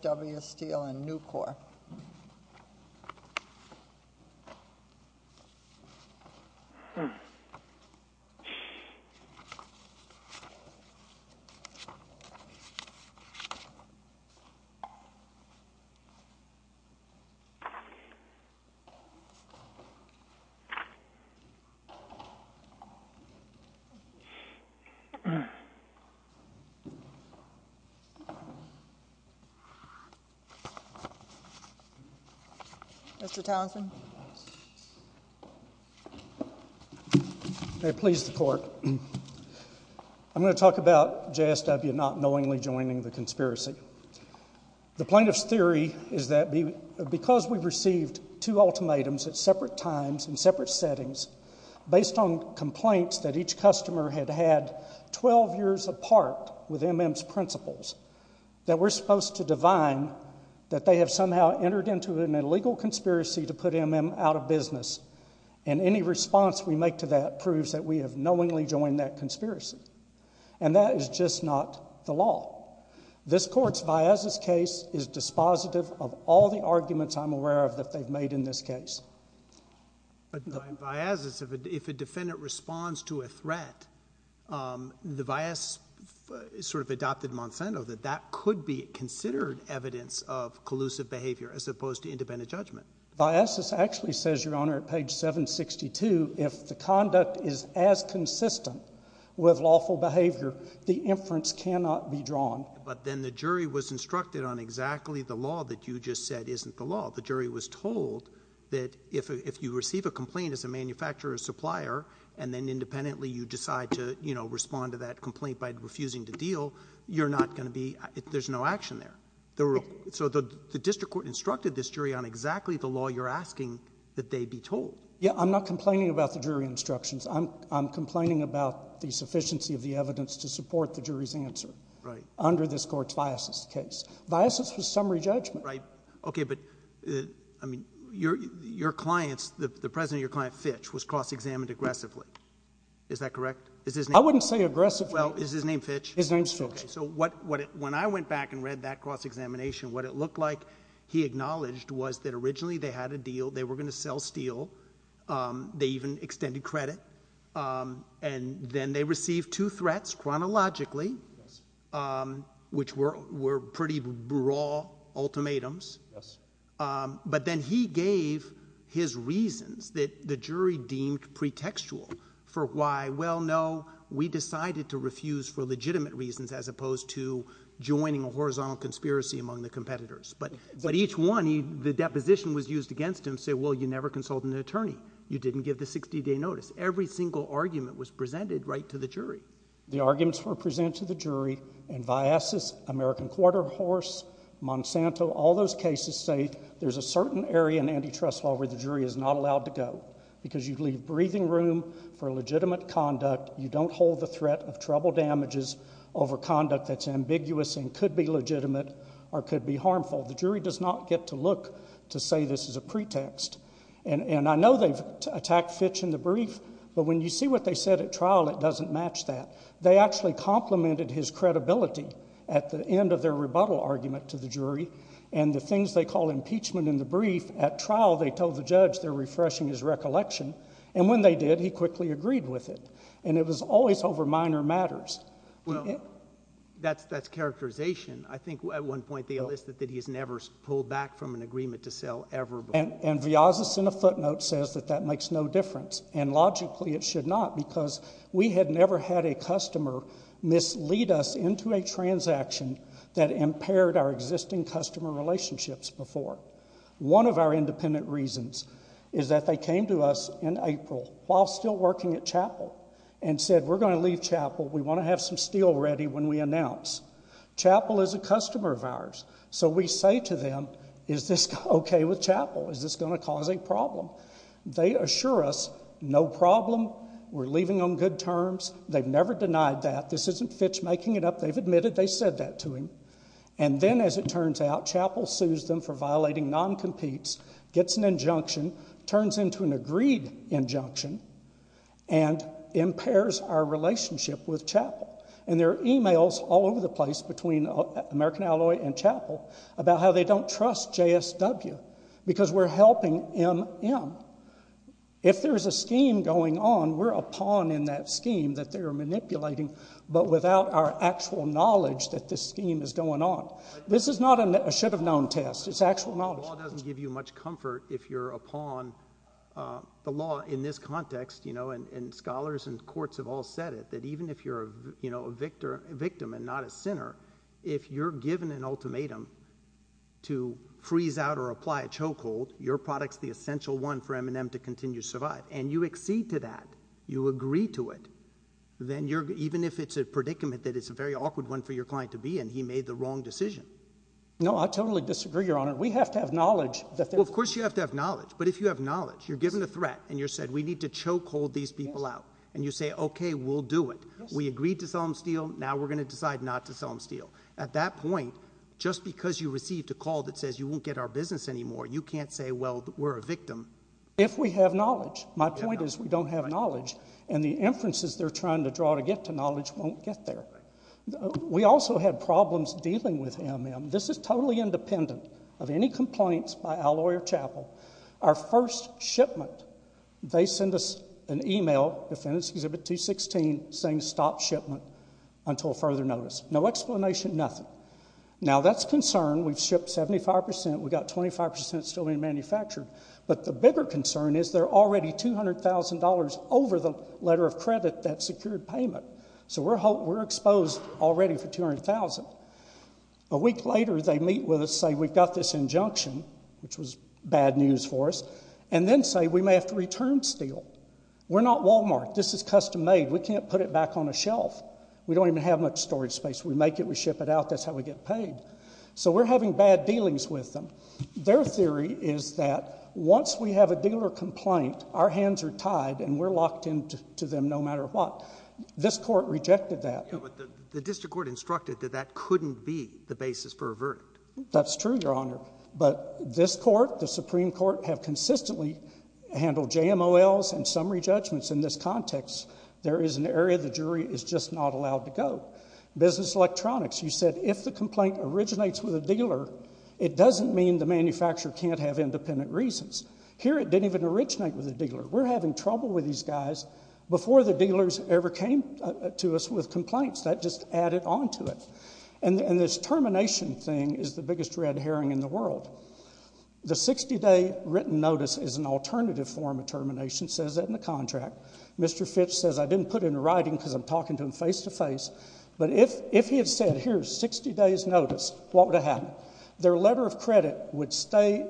W. Steel & Nucor. I'm going to talk about JSW not knowingly joining the conspiracy. The plaintiff's theory is that because we received two ultimatums at separate times in separate settings, based on complaints that each customer had had 12 years apart with M.M.'s principles, that we're supposed to divine that they have somehow entered into an illegal conspiracy to put M.M. out of business. And any response we make to that proves that we have knowingly joined that conspiracy. And that is just not the law. This court's viazes case is dispositive of all the arguments I'm aware of that they've made in this case. And viazes, if a defendant responds to a threat, the viazes sort of adopted Monsanto that that could be considered evidence of collusive behavior as opposed to independent judgment. Viazes actually says, Your Honor, at page 762, if the conduct is as consistent with lawful behavior, the inference cannot be drawn. But then the jury was instructed on exactly the law that you just said isn't the law. The jury was told that if you receive a complaint as a manufacturer or supplier and then independently you decide to, you know, respond to that complaint by refusing to deal, you're not going to be... there's no action there. So the district court instructed this jury on exactly the law you're asking that they be told. Yeah. I'm not complaining about the jury instructions. I'm complaining about the sufficiency of the evidence to support the jury's answer under this court's viazes case. Viazes was summary judgment. Right. Okay. But, I mean, your clients, the president of your client, Fitch, was cross-examined aggressively. Is that correct? Is his name... I wouldn't say aggressively. Well, is his name Fitch? His name's Fitch. Okay. So when I went back and read that cross-examination, what it looked like he acknowledged was that originally they had a deal, they were going to sell steel, they even extended credit, and then they received two threats chronologically, which were pretty raw ultimatums. But then he gave his reasons that the jury deemed pretextual for why, well, no, we decided to refuse for legitimate reasons as opposed to joining a horizontal conspiracy among the competitors. But each one, the deposition was used against him to say, well, you never consulted an attorney. You didn't give the 60-day notice. Every single argument was presented right to the jury. The arguments were presented to the jury, and Viazes, American Quarter Horse, Monsanto, all those cases say there's a certain area in antitrust law where the jury is not allowed to go because you leave breathing room for legitimate conduct, you don't hold the threat of trouble damages over conduct that's ambiguous and could be legitimate or could be harmful. The jury does not get to look to say this is a pretext. And I know they've attacked Fitch in the brief, but when you see what they said at trial, it doesn't match that. They actually complimented his credibility at the end of their rebuttal argument to the jury, and the things they call impeachment in the brief, at trial they told the judge they're refreshing his recollection, and when they did, he quickly agreed with it. And it was always over minor matters. Well, that's characterization. I think at one point they listed that he's never pulled back from an agreement to sell ever before. And Viazes, in a footnote, says that that makes no difference, and logically it should not because we had never had a customer mislead us into a transaction that impaired our existing customer relationships before. One of our independent reasons is that they came to us in April while still working at Chappell and said we're going to leave Chappell, we want to have some steel ready when we announce. Chappell is a customer of ours, so we say to them, is this okay with Chappell, is this going to cause a problem? They assure us, no problem, we're leaving on good terms, they've never denied that, this isn't Fitch making it up, they've admitted they said that to him. And then as it turns out, Chappell sues them for violating non-competes, gets an injunction, turns into an agreed injunction, and impairs our relationship with Chappell. And there are emails all over the place between American Alloy and Chappell about how they don't trust JSW because we're helping MM. If there's a scheme going on, we're a pawn in that scheme that they're manipulating, but without our actual knowledge that this scheme is going on. This is not a should-have-known test, it's actual knowledge. The law doesn't give you much comfort if you're a pawn, the law in this context, and scholars and courts have all said it, that even if you're a victim and not a sinner, if you're given an ultimatum to freeze out or apply a chokehold, your product's the essential one for M&M to continue to survive. And you accede to that, you agree to it, even if it's a predicament that it's a very awkward one for your client to be in, he made the wrong decision. No, I totally disagree, Your Honor. We have to have knowledge. Of course you have to have knowledge, but if you have knowledge, you're given a threat and you're said, we need to chokehold these people out, and you say, okay, we'll do it. We agreed to sell them steel, now we're going to decide not to sell them steel. At that point, just because you received a call that says you won't get our business anymore, you can't say, well, we're a victim. If we have knowledge. My point is we don't have knowledge, and the inferences they're trying to draw to get to knowledge won't get there. We also have problems dealing with M&M. This is totally independent of any complaints by Alloy or Chappell. Our first shipment, they send us an email, Defendant's Exhibit 216, saying stop shipment until further notice. No explanation, nothing. Now that's concern. We've shipped 75%. We've got 25% still being manufactured, but the bigger concern is they're already $200,000 over the letter of credit that secured payment, so we're exposed already for $200,000. A week later, they meet with us, say we've got this injunction, which was bad news for us, and then say we may have to return steel. We're not Walmart. This is custom made. We can't put it back on a shelf. We don't even have much storage space. We make it, we ship it out, that's how we get paid. We're having bad dealings with them. Their theory is that once we have a dealer complaint, our hands are tied and we're locked into them no matter what. This court rejected that. The district court instructed that that couldn't be the basis for a verdict. That's true, Your Honor, but this court, the Supreme Court, have consistently handled JMOLs and summary judgments in this context. There is an area the jury is just not allowed to go. Business electronics, you said if the complaint originates with a dealer, it doesn't mean the manufacturer can't have independent reasons. Here it didn't even originate with a dealer. We're having trouble with these guys before the dealers ever came to us with complaints. That just added on to it. This termination thing is the biggest red herring in the world. The 60 day written notice is an alternative form of termination, says that in the contract. Mr. Fitch says I didn't put it in writing because I'm talking to him face to face, but if he had said here's 60 days notice, what would have happened? Their letter of credit would stay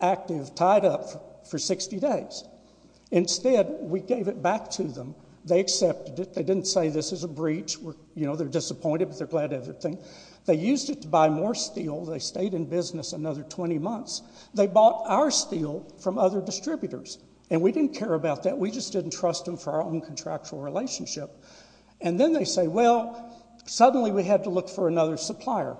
active, tied up for 60 days. Instead, we gave it back to them. They accepted it. They didn't say this is a breach. You know, they're disappointed, but they're glad to have it. They used it to buy more steel. They stayed in business another 20 months. They bought our steel from other distributors, and we didn't care about that. We just didn't trust them for our own contractual relationship. And then they say, well, suddenly we had to look for another supplier.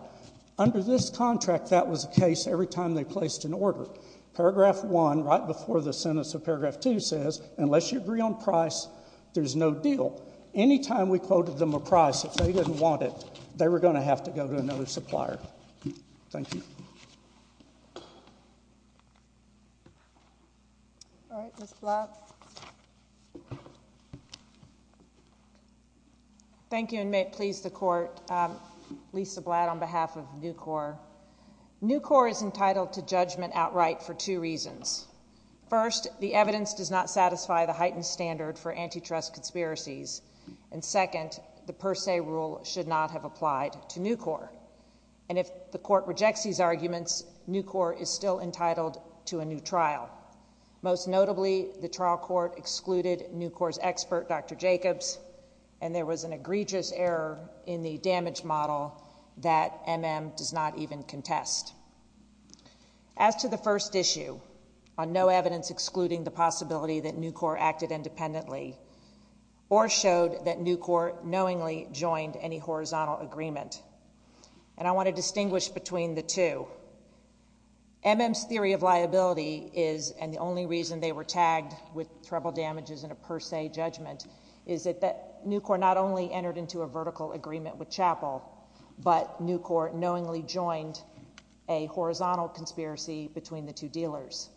Under this contract, that was the case every time they placed an order. Paragraph one, right before the sentence of paragraph two says, unless you agree on price, there's no deal. Any time we quoted them a price, if they didn't want it, they were going to have to go to another supplier. Thank you. All right, Ms. Blatt. Thank you, and may it please the court. Lisa Blatt on behalf of Nucor. Nucor is entitled to judgment outright for two reasons. First, the evidence does not satisfy the heightened standard for antitrust conspiracies. And second, the per se rule should not have applied to Nucor. And if the court rejects these arguments, Nucor is still entitled to a new trial. Most notably, the trial court excluded Nucor's expert, Dr. Jacobs. And there was an egregious error in the damage model that MM does not even contest. As to the first issue, on no evidence excluding the possibility that Nucor acted independently, or showed that Nucor knowingly joined any horizontal agreement. And I want to distinguish between the two. MM's theory of liability is, and the only reason they were tagged with that Nucor not only entered into a vertical agreement with Chapel. But Nucor knowingly joined a horizontal conspiracy between the two dealers.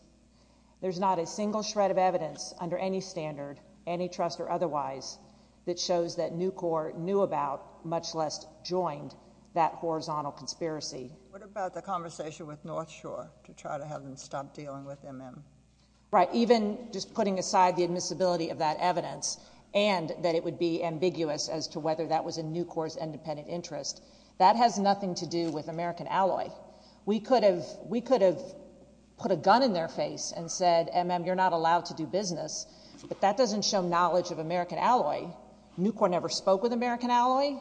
There's not a single shred of evidence under any standard, antitrust or otherwise, that shows that Nucor knew about, much less joined that horizontal conspiracy. What about the conversation with North Shore to try to have them stop dealing with MM? Right, even just putting aside the admissibility of that evidence, and that it would be ambiguous as to whether that was in Nucor's independent interest. That has nothing to do with American Alloy. We could have put a gun in their face and said, MM, you're not allowed to do business. But that doesn't show knowledge of American Alloy. Nucor never spoke with American Alloy.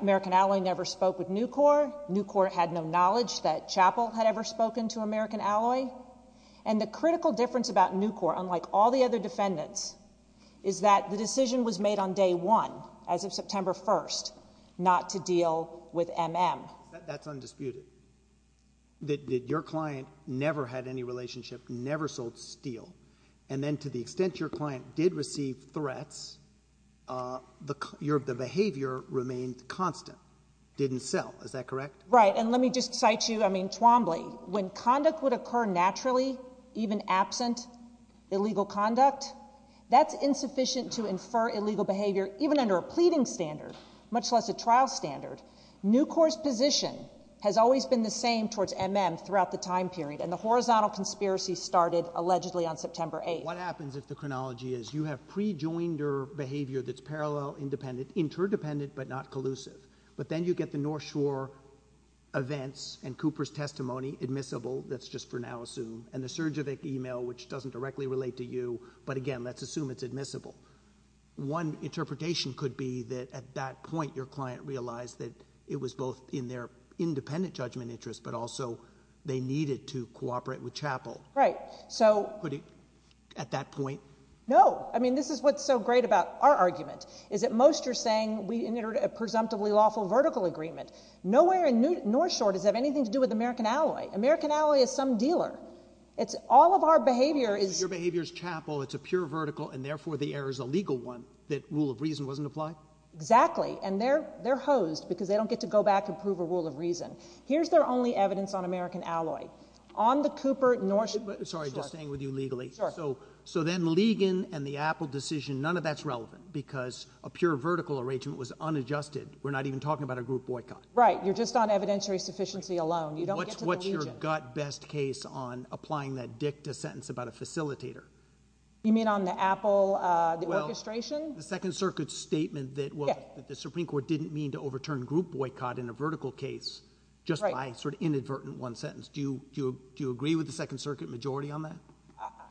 American Alloy never spoke with Nucor. Nucor had no knowledge that Chapel had ever spoken to American Alloy. And the critical difference about Nucor, unlike all the other defendants, is that the decision was made on day one, as of September 1st, not to deal with MM. That's undisputed. That your client never had any relationship, never sold steel. And then to the extent your client did receive threats, the behavior remained constant, didn't sell, is that correct? Right, and let me just cite you, I mean, Twombly. When conduct would occur naturally, even absent illegal conduct, that's insufficient to infer illegal behavior, even under a pleading standard, much less a trial standard. Nucor's position has always been the same towards MM throughout the time period. And the horizontal conspiracy started allegedly on September 8th. What happens if the chronology is you have pre-joinder behavior that's parallel, independent, interdependent, but not collusive. But then you get the North Shore events and Cooper's testimony, admissible, that's just for now assumed, and the Sergevic email, which doesn't directly relate to you, but again, let's assume it's admissible. One interpretation could be that at that point your client realized that it was both in their independent judgment interest, but also they needed to cooperate with Chappell. Right, so- Could it, at that point? No, I mean, this is what's so great about our argument, is that most are saying we entered a presumptively lawful vertical agreement. Nowhere in North Shore does it have anything to do with American Alloy. American Alloy is some dealer. It's all of our behavior is- Your behavior is Chappell, it's a pure vertical, and therefore the error's a legal one, that rule of reason wasn't applied? Exactly, and they're hosed, because they don't get to go back and prove a rule of reason. Here's their only evidence on American Alloy. On the Cooper, North Shore- Sorry, just staying with you legally. Sure. So then Ligon and the Apple decision, none of that's relevant, because a pure vertical arrangement was unadjusted. We're not even talking about a group boycott. Right, you're just on evidentiary sufficiency alone. You don't get to the region. What's your gut best case on applying that dicta sentence about a facilitator? You mean on the Apple, the orchestration? The Second Circuit's statement that the Supreme Court didn't mean to overturn group boycott in a vertical case, just by sort of inadvertent one sentence. Do you agree with the Second Circuit majority on that?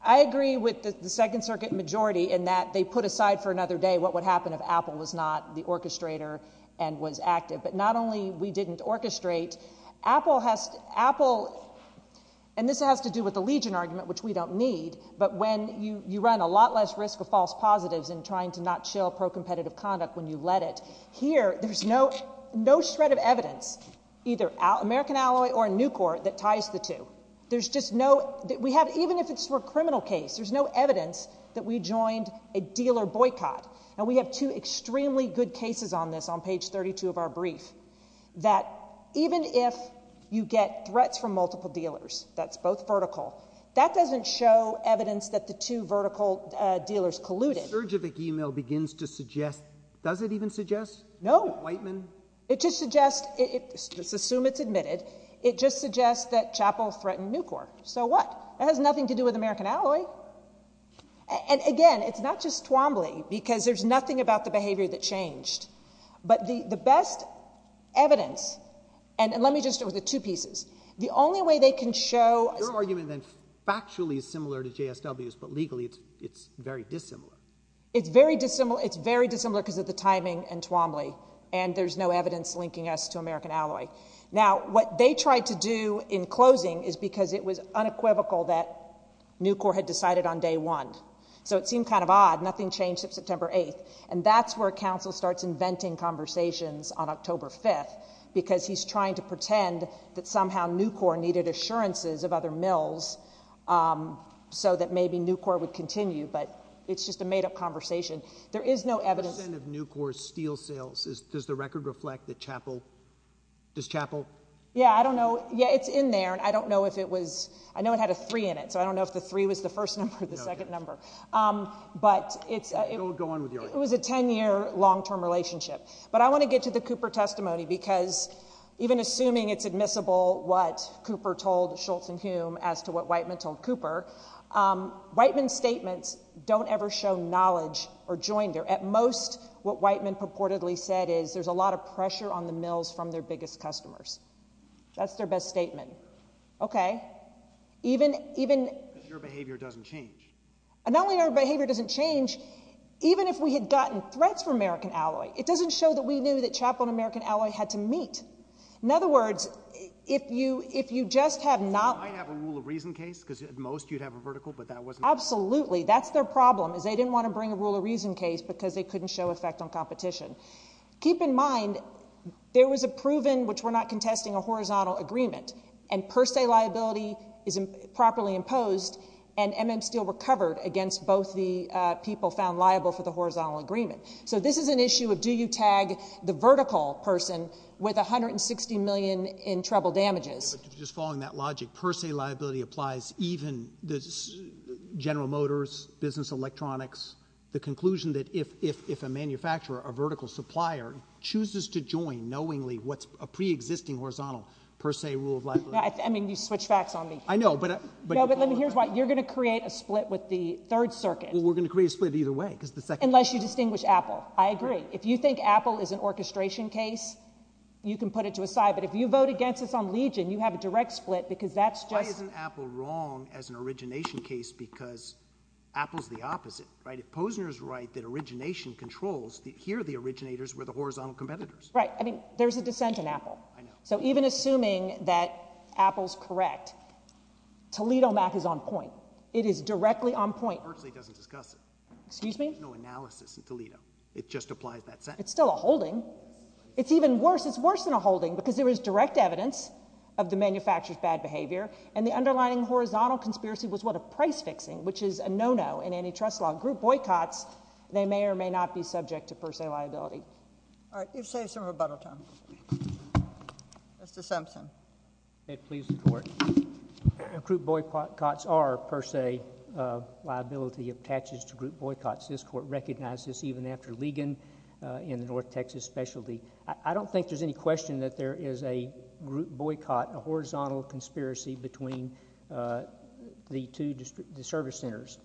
I agree with the Second Circuit majority in that they put aside for another day what would happen if Apple was not the orchestrator and was active. But not only we didn't orchestrate, Apple has, Apple, and this has to do with the Legion argument, which we don't need. But when you run a lot less risk of false positives in trying to not show pro-competitive conduct when you let it. Here, there's no shred of evidence, either American Alloy or Nucor, that ties the two. There's just no, we have, even if it's for a criminal case, there's no evidence that we joined a dealer boycott. And we have two extremely good cases on this on page 32 of our brief. That even if you get threats from multiple dealers, that's both vertical, that doesn't show evidence that the two vertical dealers colluded. The search of the email begins to suggest, does it even suggest? No. Whiteman? It just suggests, let's assume it's admitted, it just suggests that Chappell threatened Nucor. So what? That has nothing to do with American Alloy. And again, it's not just Twombly, because there's nothing about the behavior that changed. But the, the best evidence, and, and let me just start with the two pieces. The only way they can show- Your argument then, factually is similar to JSW's, but legally it's, it's very dissimilar. It's very dissimilar, it's very dissimilar because of the timing and Twombly. And there's no evidence linking us to American Alloy. Now, what they tried to do in closing is because it was unequivocal that Nucor had decided on day one. So it seemed kind of odd, nothing changed since September 8th. And that's where counsel starts inventing conversations on October 5th, because he's trying to pretend that somehow Nucor needed assurances of other mills so that maybe Nucor would continue, but it's just a made up conversation. There is no evidence- What percent of Nucor's steel sales is, does the record reflect the Chappell? Does Chappell? Yeah, I don't know. Yeah, it's in there, and I don't know if it was, I know it had a three in it, so I don't know if the three was the first number or the second number. But it's- Go on with your argument. It was a ten year long term relationship. But I want to get to the Cooper testimony, because even assuming it's admissible what Cooper told Shultz and Hume as to what Whiteman told Cooper, Whiteman's shown knowledge or joined their, at most what Whiteman purportedly said is, there's a lot of pressure on the mills from their biggest customers. That's their best statement. Okay, even, even- Because your behavior doesn't change. Not only our behavior doesn't change, even if we had gotten threats from American Alloy, it doesn't show that we knew that Chappell and American Alloy had to meet. In other words, if you, if you just have not- You might have a rule of reason case, because at most you'd have a vertical, but that wasn't- Absolutely, that's their problem, is they didn't want to bring a rule of reason case because they couldn't show effect on competition. Keep in mind, there was a proven, which we're not contesting, a horizontal agreement, and per se liability is improperly imposed. And MM Steel recovered against both the people found liable for the horizontal agreement. So this is an issue of do you tag the vertical person with 160 million in trouble damages. Just following that logic, per se liability applies even the general motors, business electronics, the conclusion that if, if, if a manufacturer, a vertical supplier, chooses to join knowingly what's a pre-existing horizontal per se rule of liability. I mean, you switch facts on me. I know, but I- No, but let me, here's why. You're going to create a split with the third circuit. Well, we're going to create a split either way, because the second- Unless you distinguish Apple. I agree. If you think Apple is an orchestration case, you can put it to a side. But if you vote against us on Legion, you have a direct split, because that's just- Why isn't Apple wrong as an origination case? Because Apple's the opposite, right? If Posner's right that origination controls, here the originators were the horizontal competitors. Right, I mean, there's a dissent in Apple. I know. So even assuming that Apple's correct, ToledoMath is on point. It is directly on point. Berkeley doesn't discuss it. Excuse me? There's no analysis in Toledo. It just applies that sentence. It's still a holding. It's even worse. It's worse than a holding, because there is direct evidence of the manufacturer's bad behavior. And the underlining horizontal conspiracy was what a price fixing, which is a no-no in antitrust law. Group boycotts, they may or may not be subject to per se liability. All right, you've saved some rebuttal time. Mr. Simpson. It pleases the court. Group boycotts are per se liability of taxes to group boycotts. This court recognized this even after Legion in the North Texas specialty. I don't think there's any question that there is a group boycott, a horizontal conspiracy between the two service centers.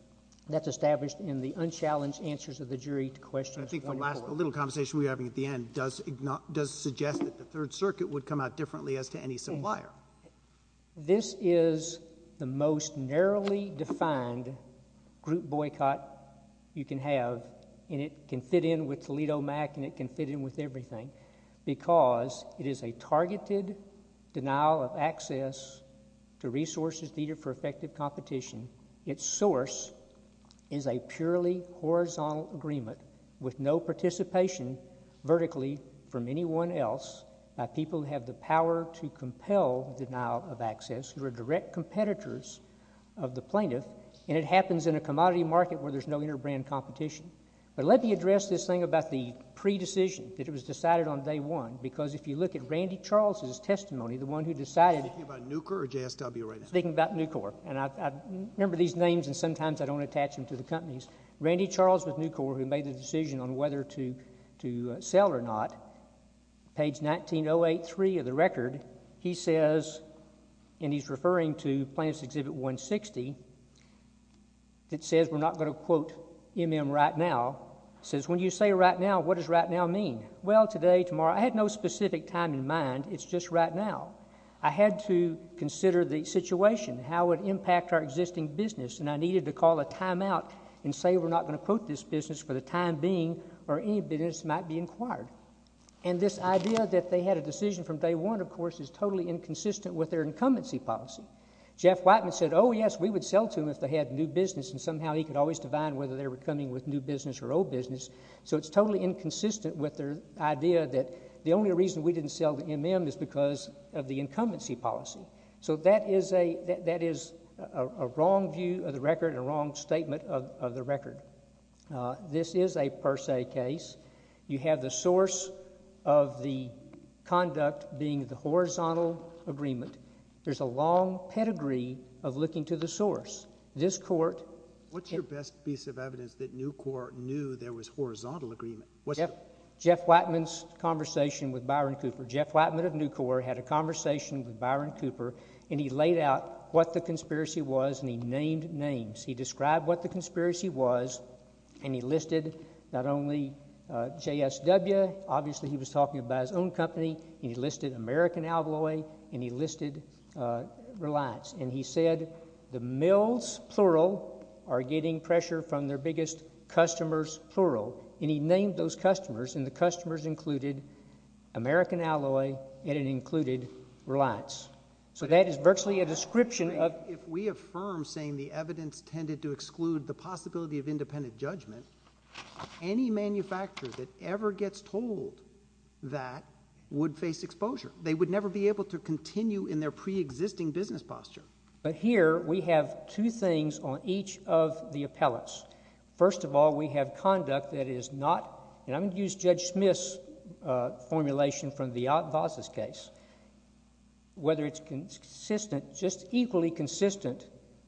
That's established in the unchallenged answers of the jury to questions. I think the last little conversation we're having at the end does suggest that the Third Circuit would come out differently as to any supplier. This is the most narrowly defined group boycott you can have. And it can fit in with Toledo Mac and it can fit in with everything because it is a targeted denial of access to resources needed for effective competition. Its source is a purely horizontal agreement with no participation vertically from anyone else. People have the power to compel denial of access who are direct competitors of the plaintiff. And it happens in a commodity market where there's no inter-brand competition. But let me address this thing about the pre-decision that it was decided on day one. Because if you look at Randy Charles's testimony, the one who decided. Thinking about Nucor or JSW right now? Thinking about Nucor. And I remember these names and sometimes I don't attach them to the companies. Randy Charles with Nucor who made the decision on whether to sell or not, page 19083 of the record, he says, and he's referring to plaintiff's exhibit 160 that says we're not going to quote MM right now. Says, when you say right now, what does right now mean? Well, today, tomorrow, I had no specific time in mind. It's just right now. I had to consider the situation, how it would impact our existing business. And I needed to call a timeout and say we're not going to quote this business for the time being or any business might be inquired. And this idea that they had a decision from day one, of course, is totally inconsistent with their incumbency policy. Jeff Whiteman said, oh, yes, we would sell to them if they had new business and somehow he could always divine whether they were coming with new business or old business. So it's totally inconsistent with their idea that the only reason we didn't sell to MM is because of the incumbency policy. So that is a wrong view of the record and a wrong statement of the record. This is a per se case. You have the source of the conduct being the horizontal agreement. There's a long pedigree of looking to the source. This court. What's your best piece of evidence that Newcorp knew there was horizontal agreement? Jeff Whiteman's conversation with Byron Cooper. Jeff Whiteman of Newcorp had a conversation with Byron Cooper and he laid out what the conspiracy was and he named names. He described what the conspiracy was and he listed not only JSW, obviously he was talking about his own company, and he listed American Alloy and he listed Reliance. And he said the mills, plural, are getting pressure from their biggest customers, plural. And he named those customers and the customers included American Alloy and it included Reliance. So that is virtually a description of... If we affirm saying the evidence tended to exclude the possibility of independent judgment, any manufacturer that ever gets told that would face exposure. They would never be able to continue in their pre-existing business posture. But here we have two things on each of the appellates. First of all, we have conduct that is not... And I'm going to use Judge Smith's formulation from the Ott Voss's case, whether it's consistent, just equally consistent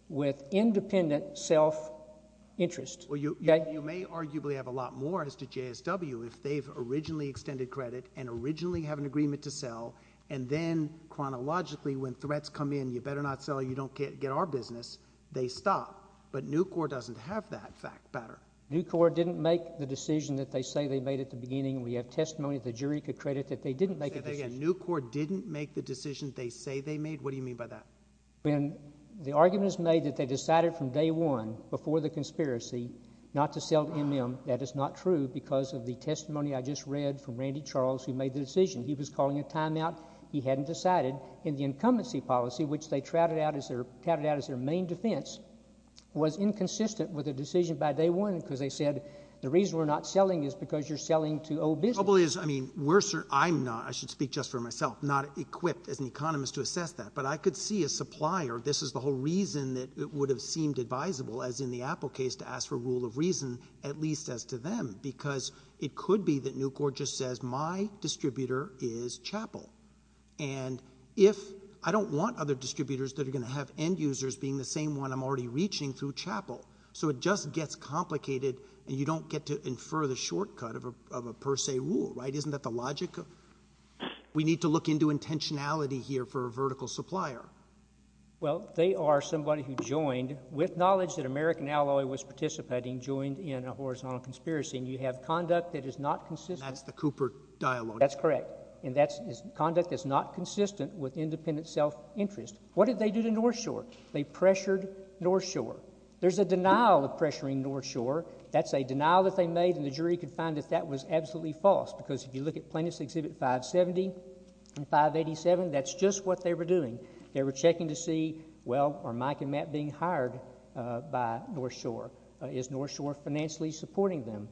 with independent self-interest. Well, you may arguably have a lot more as to JSW if they've originally extended credit and originally have an agreement to sell, and then chronologically when threats come in, you better not sell, you don't get our business, they stop. But Nucor doesn't have that fact pattern. Nucor didn't make the decision that they say they made at the beginning. We have testimony the jury could credit that they didn't make a decision. Say that again, Nucor didn't make the decision they say they made? What do you mean by that? When the argument is made that they decided from day one before the conspiracy not to sell to MM, that is not true because of the testimony I just read from Randy Charles who made the decision. He was calling a timeout. He hadn't decided, and the incumbency policy, which they touted out as their main defense, was inconsistent with the decision by day one because they said the reason we're not selling is because you're selling to old business. Trouble is, I mean, I'm not, I should speak just for myself, not equipped as an economist to assess that, but I could see a supplier, this is the whole reason that it would have seemed advisable as in the Apple case to ask for rule of reason, at least as to them, because it could be that Nucor just says my distributor is Chappell, and if I don't want other distributors that are gonna have end users being the same one I'm already reaching through Chappell, so it just gets complicated, and you don't get to infer the shortcut of a per se rule, right? Isn't that the logic? We need to look into intentionality here for a vertical supplier. Well, they are somebody who joined with knowledge that American Alloy was participating, joined in a horizontal conspiracy, and you have conduct that is not consistent. That's the Cooper dialogue. That's correct, and that's conduct that's not consistent with independent self-interest. What did they do to North Shore? They pressured North Shore. There's a denial of pressuring North Shore. That's a denial that they made, and the jury could find that that was absolutely false because if you look at plaintiff's exhibit 570 and 587, that's just what they were doing. They were checking to see, well, are Mike and Matt being hired by North Shore? Is North Shore financially supporting them?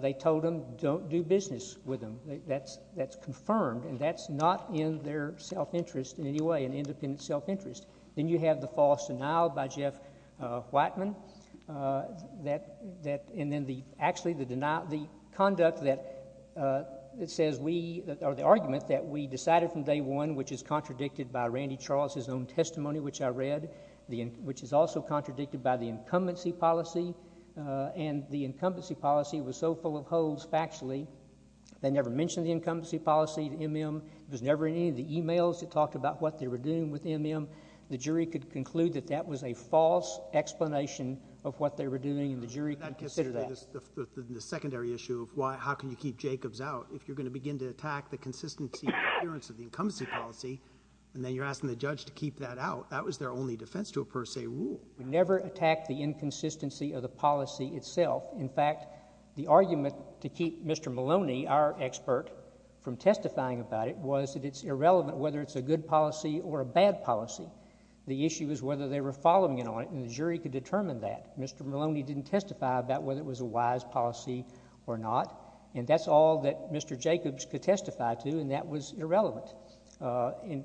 They told them, don't do business with them. That's confirmed, and that's not in their self-interest in any way, an independent self-interest. Then you have the false denial by Jeff Whiteman, and then the, actually, the denial, the conduct that says we, or the argument that we decided from day one, which is contradicted by Randy Charles's own testimony, which I read, which is also contradicted by the incumbency policy, and the incumbency policy was so full of holes factually, they never mentioned the incumbency policy, the MM. It was never in any of the emails that talked about what they were doing with MM. The jury could conclude that that was a false explanation of what they were doing, and the jury could consider that. The secondary issue of why, how can you keep Jacobs out if you're gonna begin to attack the consistency and adherence of the incumbency policy, and then you're asking the judge to keep that out? That was their only defense to a per se rule. We never attacked the inconsistency of the policy itself. In fact, the argument to keep Mr. Maloney, our expert, from testifying about it was that it's irrelevant whether it's a good policy or a bad policy. The issue is whether they were following it on it, and the jury could determine that. Mr. Maloney didn't testify about whether it was a wise policy or not, and that's all that Mr. Jacobs could testify to, and that was irrelevant. And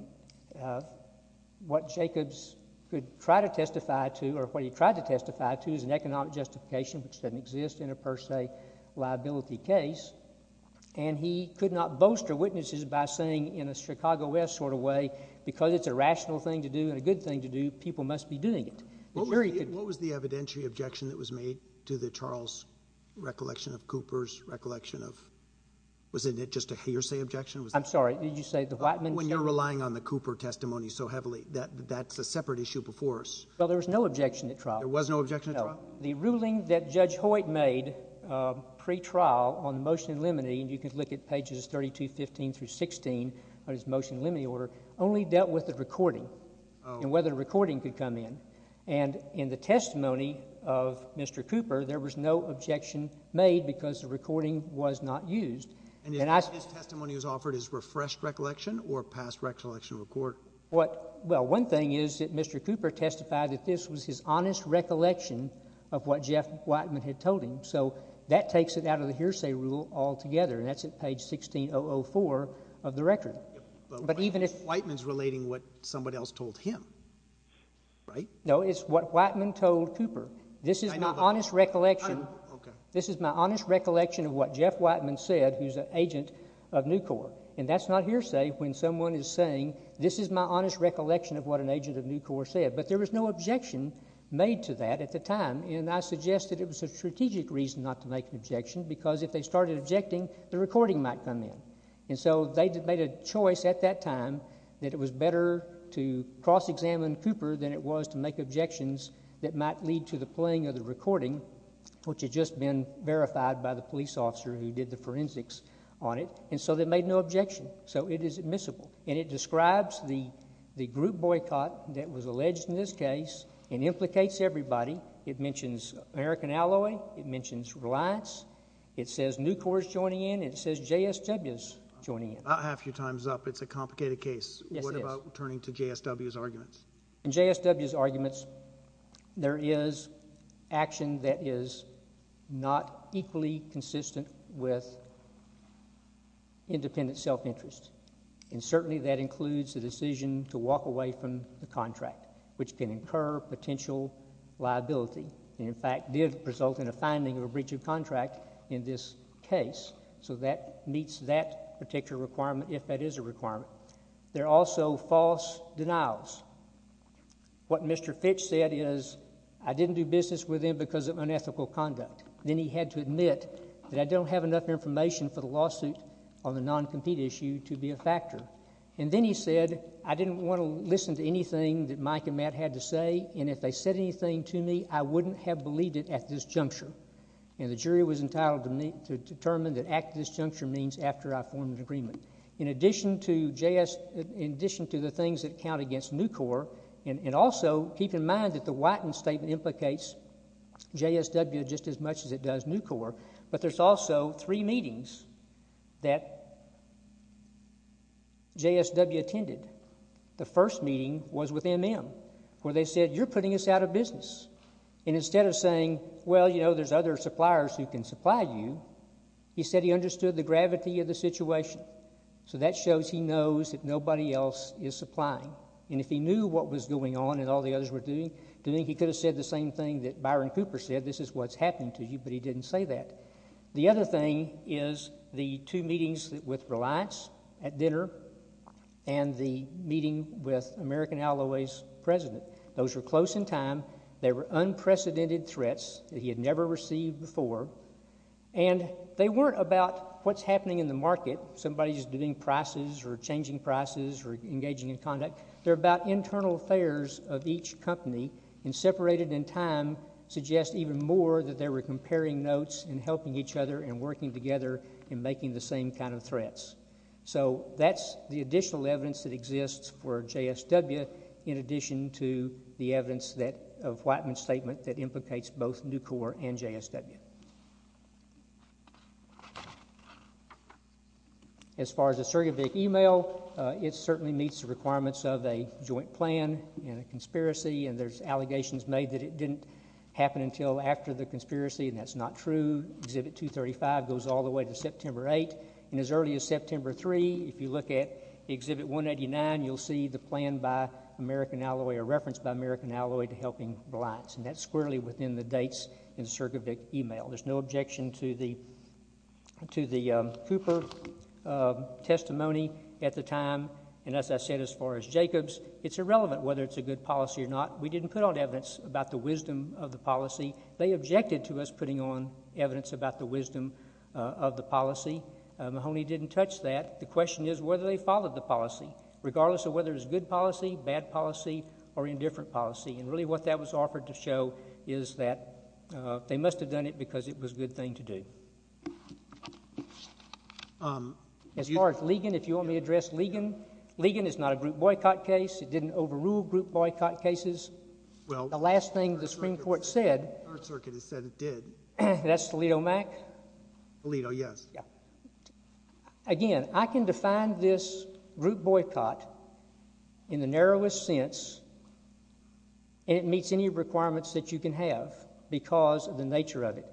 what Jacobs could try to testify to, or what he tried to testify to, is an economic justification, which doesn't exist in a per se liability case, and he could not bolster witnesses by saying in a Chicago West sort of way, because it's a rational thing to do and a good thing to do, people must be doing it. The jury could- What was the evidentiary objection that was made to the Charles recollection of Cooper's recollection of, wasn't it just a hearsay objection? I'm sorry, did you say the Whiteman- When you're relying on the Cooper testimony so heavily, that's a separate issue before us. Well, there was no objection at trial. There was no objection at trial? No. The ruling that Judge Hoyt made pre-trial on the motion in limine, and you can look at pages 32, 15 through 16 on his motion in limine order, only dealt with the recording and whether the recording could come in. And in the testimony of Mr. Cooper, there was no objection made because the recording was not used. And his testimony was offered as refreshed recollection or past recollection report? What, well, one thing is that Mr. Cooper testified that this was his honest recollection of what Jeff Whiteman had told him. So that takes it out of the hearsay rule altogether, and that's at page 16004 of the record. But even if- Whiteman's relating what somebody else told him, right? No, it's what Whiteman told Cooper. This is my honest recollection. This is my honest recollection of what Jeff Whiteman said, who's an agent of Nucor. And that's not hearsay when someone is saying, this is my honest recollection of what an agent of Nucor said. But there was no objection made to that at the time. And I suggest that it was a strategic reason not to make an objection, because if they started objecting, the recording might come in. And so they made a choice at that time that it was better to cross-examine Cooper than it was to make objections that might lead to the playing of the recording, which had just been verified by the police officer who did the forensics on it. And so they made no objection. So it is admissible. And it describes the group boycott that was alleged in this case and implicates everybody. It mentions American Alloy. It mentions Reliance. It says Nucor's joining in. It says JSW's joining in. About half your time's up. It's a complicated case. Yes, it is. What about turning to JSW's arguments? In JSW's arguments, there is action that is not equally consistent with independent self-interest. And certainly that includes the decision to walk away from the contract, which can incur potential liability, and in fact did result in a finding of a breach of contract in this case. So that meets that particular requirement, if that is a requirement. There are also false denials. What Mr. Fitch said is, I didn't do business with him because of unethical conduct. Then he had to admit that I don't have enough information for the lawsuit on the non-compete issue to be a factor. And then he said, I didn't want to listen to anything that Mike and Matt had to say, and if they said anything to me, I wouldn't have believed it at this juncture. And the jury was entitled to determine that at this juncture means after I formed an agreement. In addition to the things that count against Nucor, and also keep in mind that the Whiten statement implicates JSW just as much as it does Nucor, but there's also three meetings that JSW attended. The first meeting was with MM, where they said, you're putting us out of business. And instead of saying, well, you know, there's other suppliers who can supply you, he said he understood the gravity of the situation. So that shows he knows that nobody else is supplying. And if he knew what was going on and all the others were doing, he could have said the same thing that Byron Cooper said, this is what's happening to you, but he didn't say that. The other thing is the two meetings with Reliance at dinner, and the meeting with American Alloway's president. Those were close in time. They were unprecedented threats that he had never received before. And they weren't about what's happening in the market. Somebody's doing prices or changing prices or engaging in conduct. They're about internal affairs of each company and separated in time suggest even more that they were comparing notes and helping each other and working together and making the same kind of threats. So that's the additional evidence that exists for JSW in addition to the evidence that of Whiteman's statement that implicates both Nucor and JSW. As far as the Sergevic email, it certainly meets the requirements of a joint plan and a conspiracy and there's allegations made that it didn't happen until after the conspiracy and that's not true. Exhibit 235 goes all the way to September 8. And as early as September 3, if you look at Exhibit 189, you'll see the plan by American Alloway or reference by American Alloway to helping Reliance. And that's squarely within the dates in Sergevic email. There's no objection to the Cooper testimony at the time. And as I said, as far as Jacobs, it's irrelevant whether it's a good policy or not. We didn't put on evidence about the wisdom of the policy. They objected to us putting on evidence about the wisdom of the policy. Mahoney didn't touch that. The question is whether they followed the policy, regardless of whether it was good policy, bad policy, or indifferent policy. And really what that was offered to show is that they must have done it because it was a good thing to do. As far as Ligon, if you want me to address Ligon, Ligon is not a group boycott case. It didn't overrule group boycott cases. Well, the last thing the Supreme Court said. Third Circuit has said it did. That's Toledo MAC? Toledo, yes. Again, I can define this group boycott in the narrowest sense, and it meets any requirements that you can have because of the nature of it.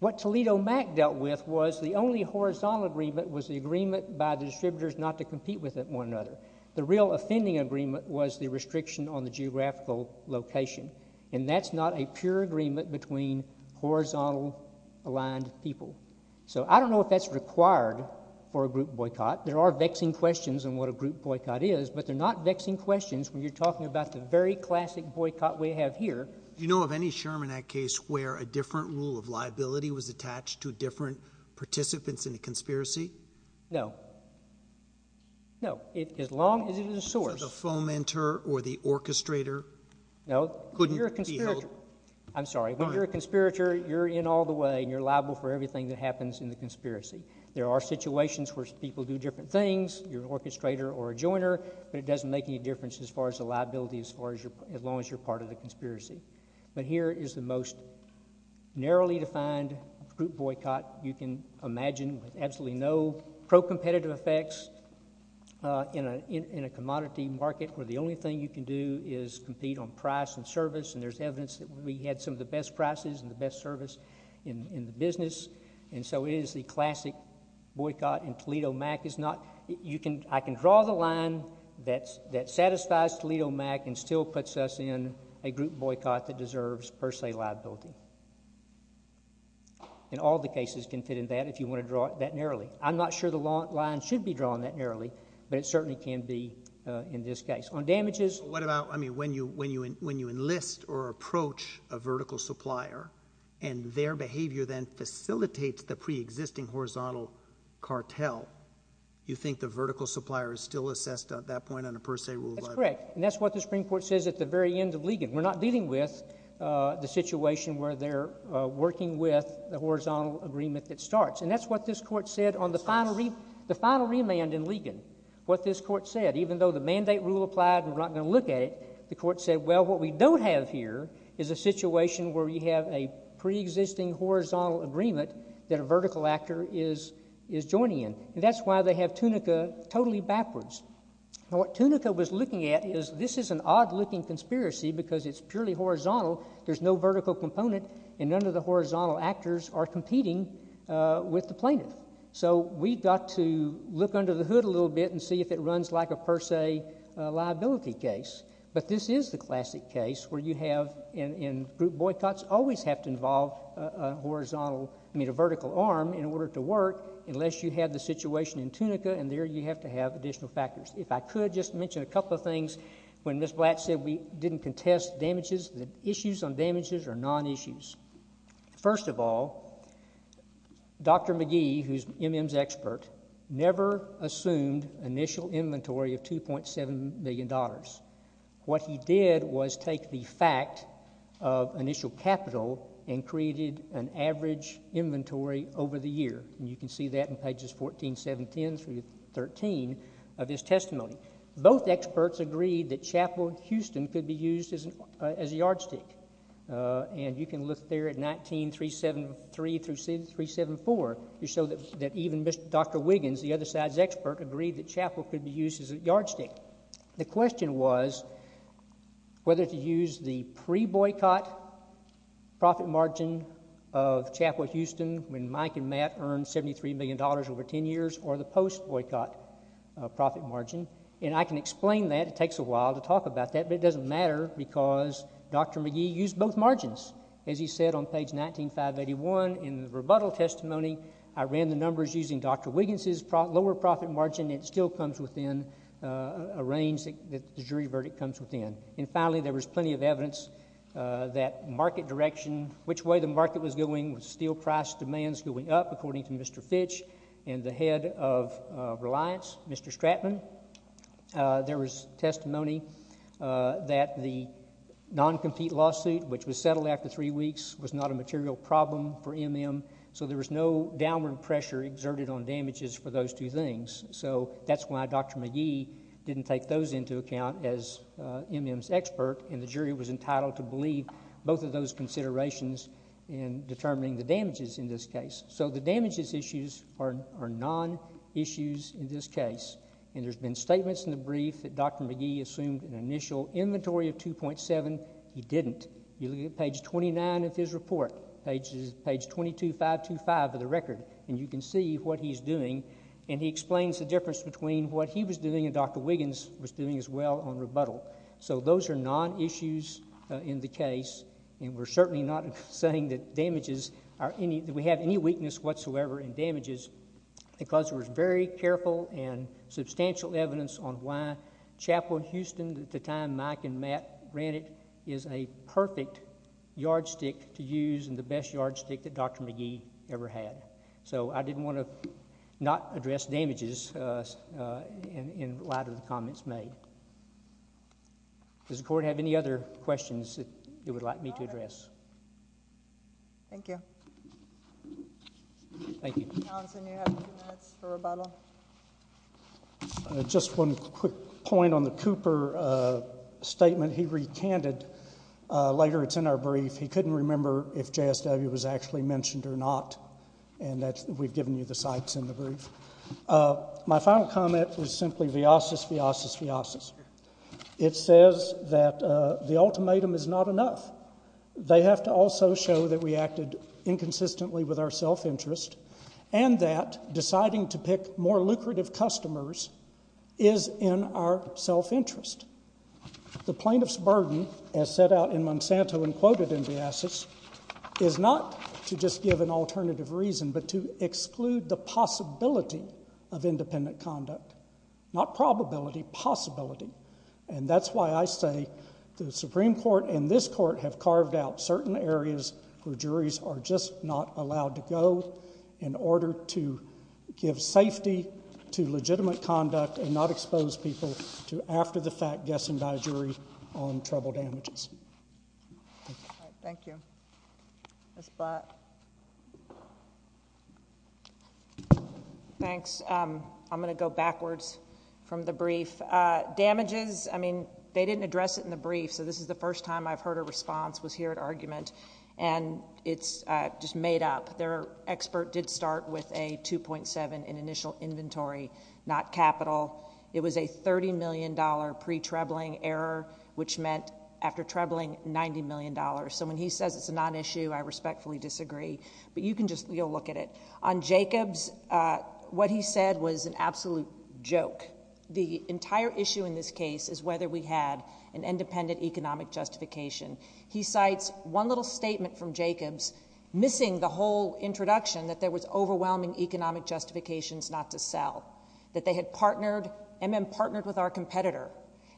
What Toledo MAC dealt with was the only horizontal agreement was the agreement by the distributors not to compete with one another. The real offending agreement was the restriction on the geographical location, and that's not a pure agreement between horizontal aligned people. So I don't know if that's required for a group boycott. There are vexing questions on what a group boycott is, but they're not vexing questions when you're talking about the very classic boycott we have here. Do you know of any Sherman Act case where a different rule of liability was attached to different participants in the conspiracy? No. No, as long as it is a source. So the fomentor or the orchestrator couldn't be held? I'm sorry, when you're a conspirator, you're in all the way, and you're liable for everything that happens in the conspiracy. There are situations where people do different things, you're an orchestrator or a joiner, but it doesn't make any difference as far as the liability as long as you're part of the conspiracy. But here is the most narrowly defined group boycott you can imagine with absolutely no pro-competitive effects in a commodity market where the only thing you can do is compete on price and service, and there's evidence that we had some of the best prices and the best service in the business, and so it is the classic boycott, and Toledo MAC is not, I can draw the line that satisfies Toledo MAC and still puts us in a group boycott that deserves, per se, liability. And all the cases can fit in that if you wanna draw it that narrowly. I'm not sure the line should be drawn that narrowly, but it certainly can be in this case. On damages. What about, I mean, when you enlist or approach a vertical supplier, and their behavior then facilitates the pre-existing horizontal cartel, you think the vertical supplier is still assessed at that point under per se rule by the- That's correct, and that's what the Supreme Court says at the very end of Ligon. We're not dealing with the situation where they're working with the horizontal agreement that starts, and that's what this court said on the final remand in Ligon, what this court said, even though the mandate rule applied and we're not gonna look at it, the court said, well, what we don't have here is a situation where we have a pre-existing horizontal agreement that a vertical actor is joining in, and that's why they have Tunica totally backwards. Now, what Tunica was looking at is this is an odd-looking conspiracy because it's purely horizontal. There's no vertical component, and none of the horizontal actors are competing with the plaintiff, so we've got to look under the hood a little bit and see if it runs like a per se liability case, but this is the classic case where you have, and group boycotts always have to involve a vertical arm in order to work unless you have the situation in Tunica, and there you have to have additional factors. If I could just mention a couple of things. When Ms. Blatt said we didn't contest damages, issues on damages are non-issues. First of all, Dr. McGee, who's MM's expert, never assumed initial inventory of $2.7 million. What he did was take the fact of initial capital and created an average inventory over the year, and you can see that in pages 14, 7, 10 through 13 of his testimony. Both experts agreed that Chapel Houston could be used as a yardstick, and you can look there at 19.373 through 19.374. You show that even Dr. Wiggins, the other side's expert, agreed that Chapel could be used as a yardstick. The question was whether to use the pre-boycott profit margin of Chapel Houston when Mike and Matt earned $73 million over 10 years or the post-boycott profit margin, and I can explain that. It takes a while to talk about that, but it doesn't matter because Dr. McGee used both margins. As he said on page 19, 581 in the rebuttal testimony, I ran the numbers using Dr. Wiggins' lower profit margin. It still comes within a range that the jury verdict comes within. And finally, there was plenty of evidence that market direction, which way the market was going with steel price demands going up, according to Mr. Fitch and the head of Reliance, Mr. Stratman, there was testimony that the non-compete lawsuit, which was settled after three weeks, was not a material problem for MM, so there was no downward pressure exerted on damages for those two things. So that's why Dr. McGee didn't take those into account as MM's expert, and the jury was entitled to believe both of those considerations in determining the damages in this case. So the damages issues are non-issues in this case, and there's been statements in the brief that Dr. McGee assumed an initial inventory of 2.7. He didn't. You look at page 29 of his report, page 22, 525 of the record, and you can see what he's doing, and he explains the difference between what he was doing and Dr. Wiggins was doing as well on rebuttal. So those are non-issues in the case, and we're certainly not saying that damages are any, that we have any weakness whatsoever in damages, because there was very careful and substantial evidence on why Chapel in Houston, at the time Mike and Matt ran it, is a perfect yardstick to use, and the best yardstick that Dr. McGee ever had. So I didn't want to not address damages in light of the comments made. Does the court have any other questions that it would like me to address? Thank you. Thank you. Mr. Johnson, you have a few minutes for rebuttal. Just one quick point on the Cooper statement he recanted. Later, it's in our brief. He couldn't remember if JSW was actually mentioned or not, and we've given you the sites in the brief. My final comment was simply, viasis, viasis, viasis. It says that the ultimatum is not enough. They have to also show that we acted inconsistently with our self-interest, and that deciding to pick more lucrative customers is in our self-interest. The plaintiff's burden, as set out in Monsanto and quoted in viasis, is not to just give an alternative reason, but to exclude the possibility of independent conduct. Not probability, possibility. And that's why I say the Supreme Court and this court have carved out certain areas where juries are just not allowed to go in order to give safety to legitimate conduct and not expose people to after the fact guessing by a jury on trouble damages. Thank you. Ms. Blatt. Thanks. I'm gonna go backwards from the brief. Damages, I mean, they didn't address it in the brief, so this is the first time I've heard a response was here at argument. And it's just made up. Their expert did start with a 2.7 in initial inventory, not capital. It was a $30 million pre-trebling error, which meant after trebling, $90 million. So when he says it's a non-issue, I respectfully disagree. But you can just, you'll look at it. On Jacobs, what he said was an absolute joke. The entire issue in this case is whether we had an independent economic justification. He cites one little statement from Jacobs missing the whole introduction that there was overwhelming economic justifications not to sell, that they had partnered, and then partnered with our competitor,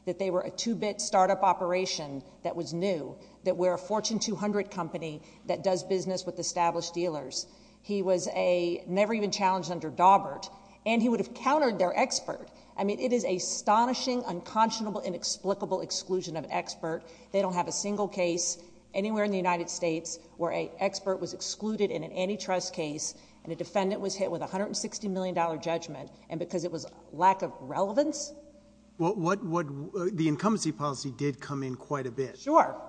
that they were a two-bit startup operation that was new, that we're a Fortune 200 company that does business with established dealers. He was a never even challenged under Daubert, and he would have countered their expert. I mean, it is astonishing, unconscionable, inexplicable exclusion of expert. They don't have a single case anywhere in the United States where a expert was excluded in an antitrust case and a defendant was hit with a $160 million judgment, and because it was lack of relevance? Well, the incumbency policy did come in quite a bit. Sure.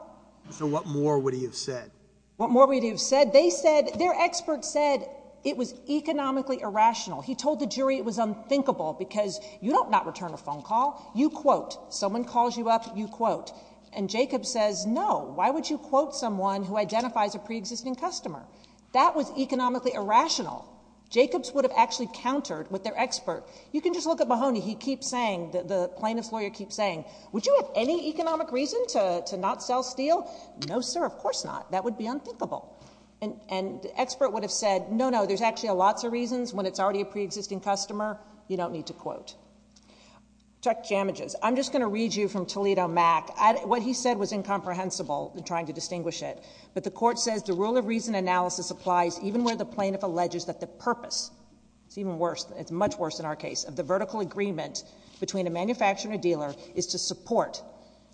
So what more would he have said? What more would he have said? They said, their expert said it was economically irrational. He told the jury it was unthinkable because you don't not return a phone call. You quote. Someone calls you up, you quote. And Jacobs says, no, why would you quote someone who identifies a pre-existing customer? That was economically irrational. Jacobs would have actually countered with their expert. You can just look at Mahoney. He keeps saying, the plaintiff's lawyer keeps saying, would you have any economic reason to not sell steel? No, sir, of course not. That would be unthinkable. And the expert would have said, no, no, there's actually lots of reasons when it's already a pre-existing customer, you don't need to quote. Chuck Jameges, I'm just gonna read you from Toledo Mac. What he said was incomprehensible, trying to distinguish it. But the court says, the rule of reason analysis applies even where the plaintiff alleges that the purpose, it's even worse, it's much worse in our case, of the vertical agreement between a manufacturer and dealer is to support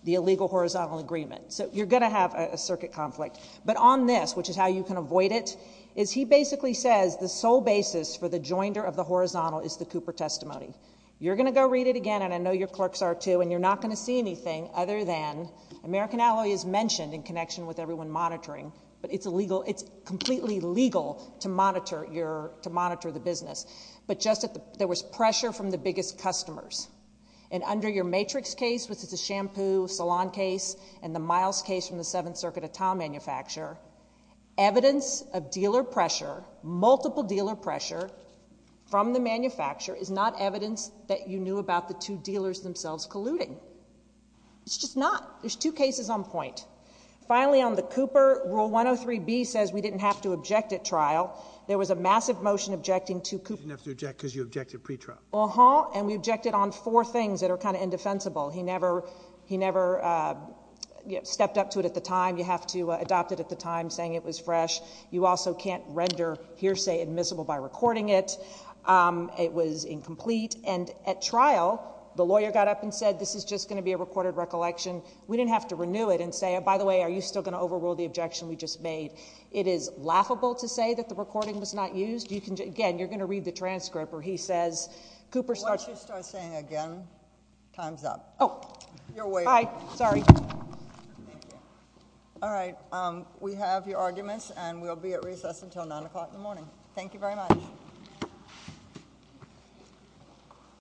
the illegal horizontal agreement. So you're gonna have a circuit conflict. But on this, which is how you can avoid it, is he basically says the sole basis for the joinder of the horizontal is the Cooper testimony. You're gonna go read it again, and I know your clerks are too, and you're not gonna see anything other than American Alloy is mentioned in connection with everyone monitoring, but it's completely legal to monitor the business. But just that there was pressure from the biggest customers. And under your Matrix case, which is a shampoo salon case, and the Miles case from the Seventh Circuit of Tom manufacturer, evidence of dealer pressure, multiple dealer pressure from the manufacturer is not evidence that you knew about the two dealers themselves colluding. It's just not. There's two cases on point. Finally, on the Cooper, Rule 103B says we didn't have to object at trial. There was a massive motion objecting to Cooper. You didn't have to object, because you objected pre-trial. Uh-huh, and we objected on four things that are kind of indefensible. He never stepped up to it at the time. You have to adopt it at the time, saying it was fresh. You also can't render hearsay admissible by recording it. It was incomplete, and at trial, the lawyer got up and said, this is just gonna be a recorded recollection. We didn't have to renew it and say, by the way, are you still gonna overrule the objection we just made? It is laughable to say that the recording was not used. Again, you're gonna read the transcript where he says, Cooper started- Why don't you start saying it again? Time's up. Oh. You're waiving. Hi, sorry. All right, we have your arguments, and we'll be at recess until nine o'clock in the morning. Thank you very much.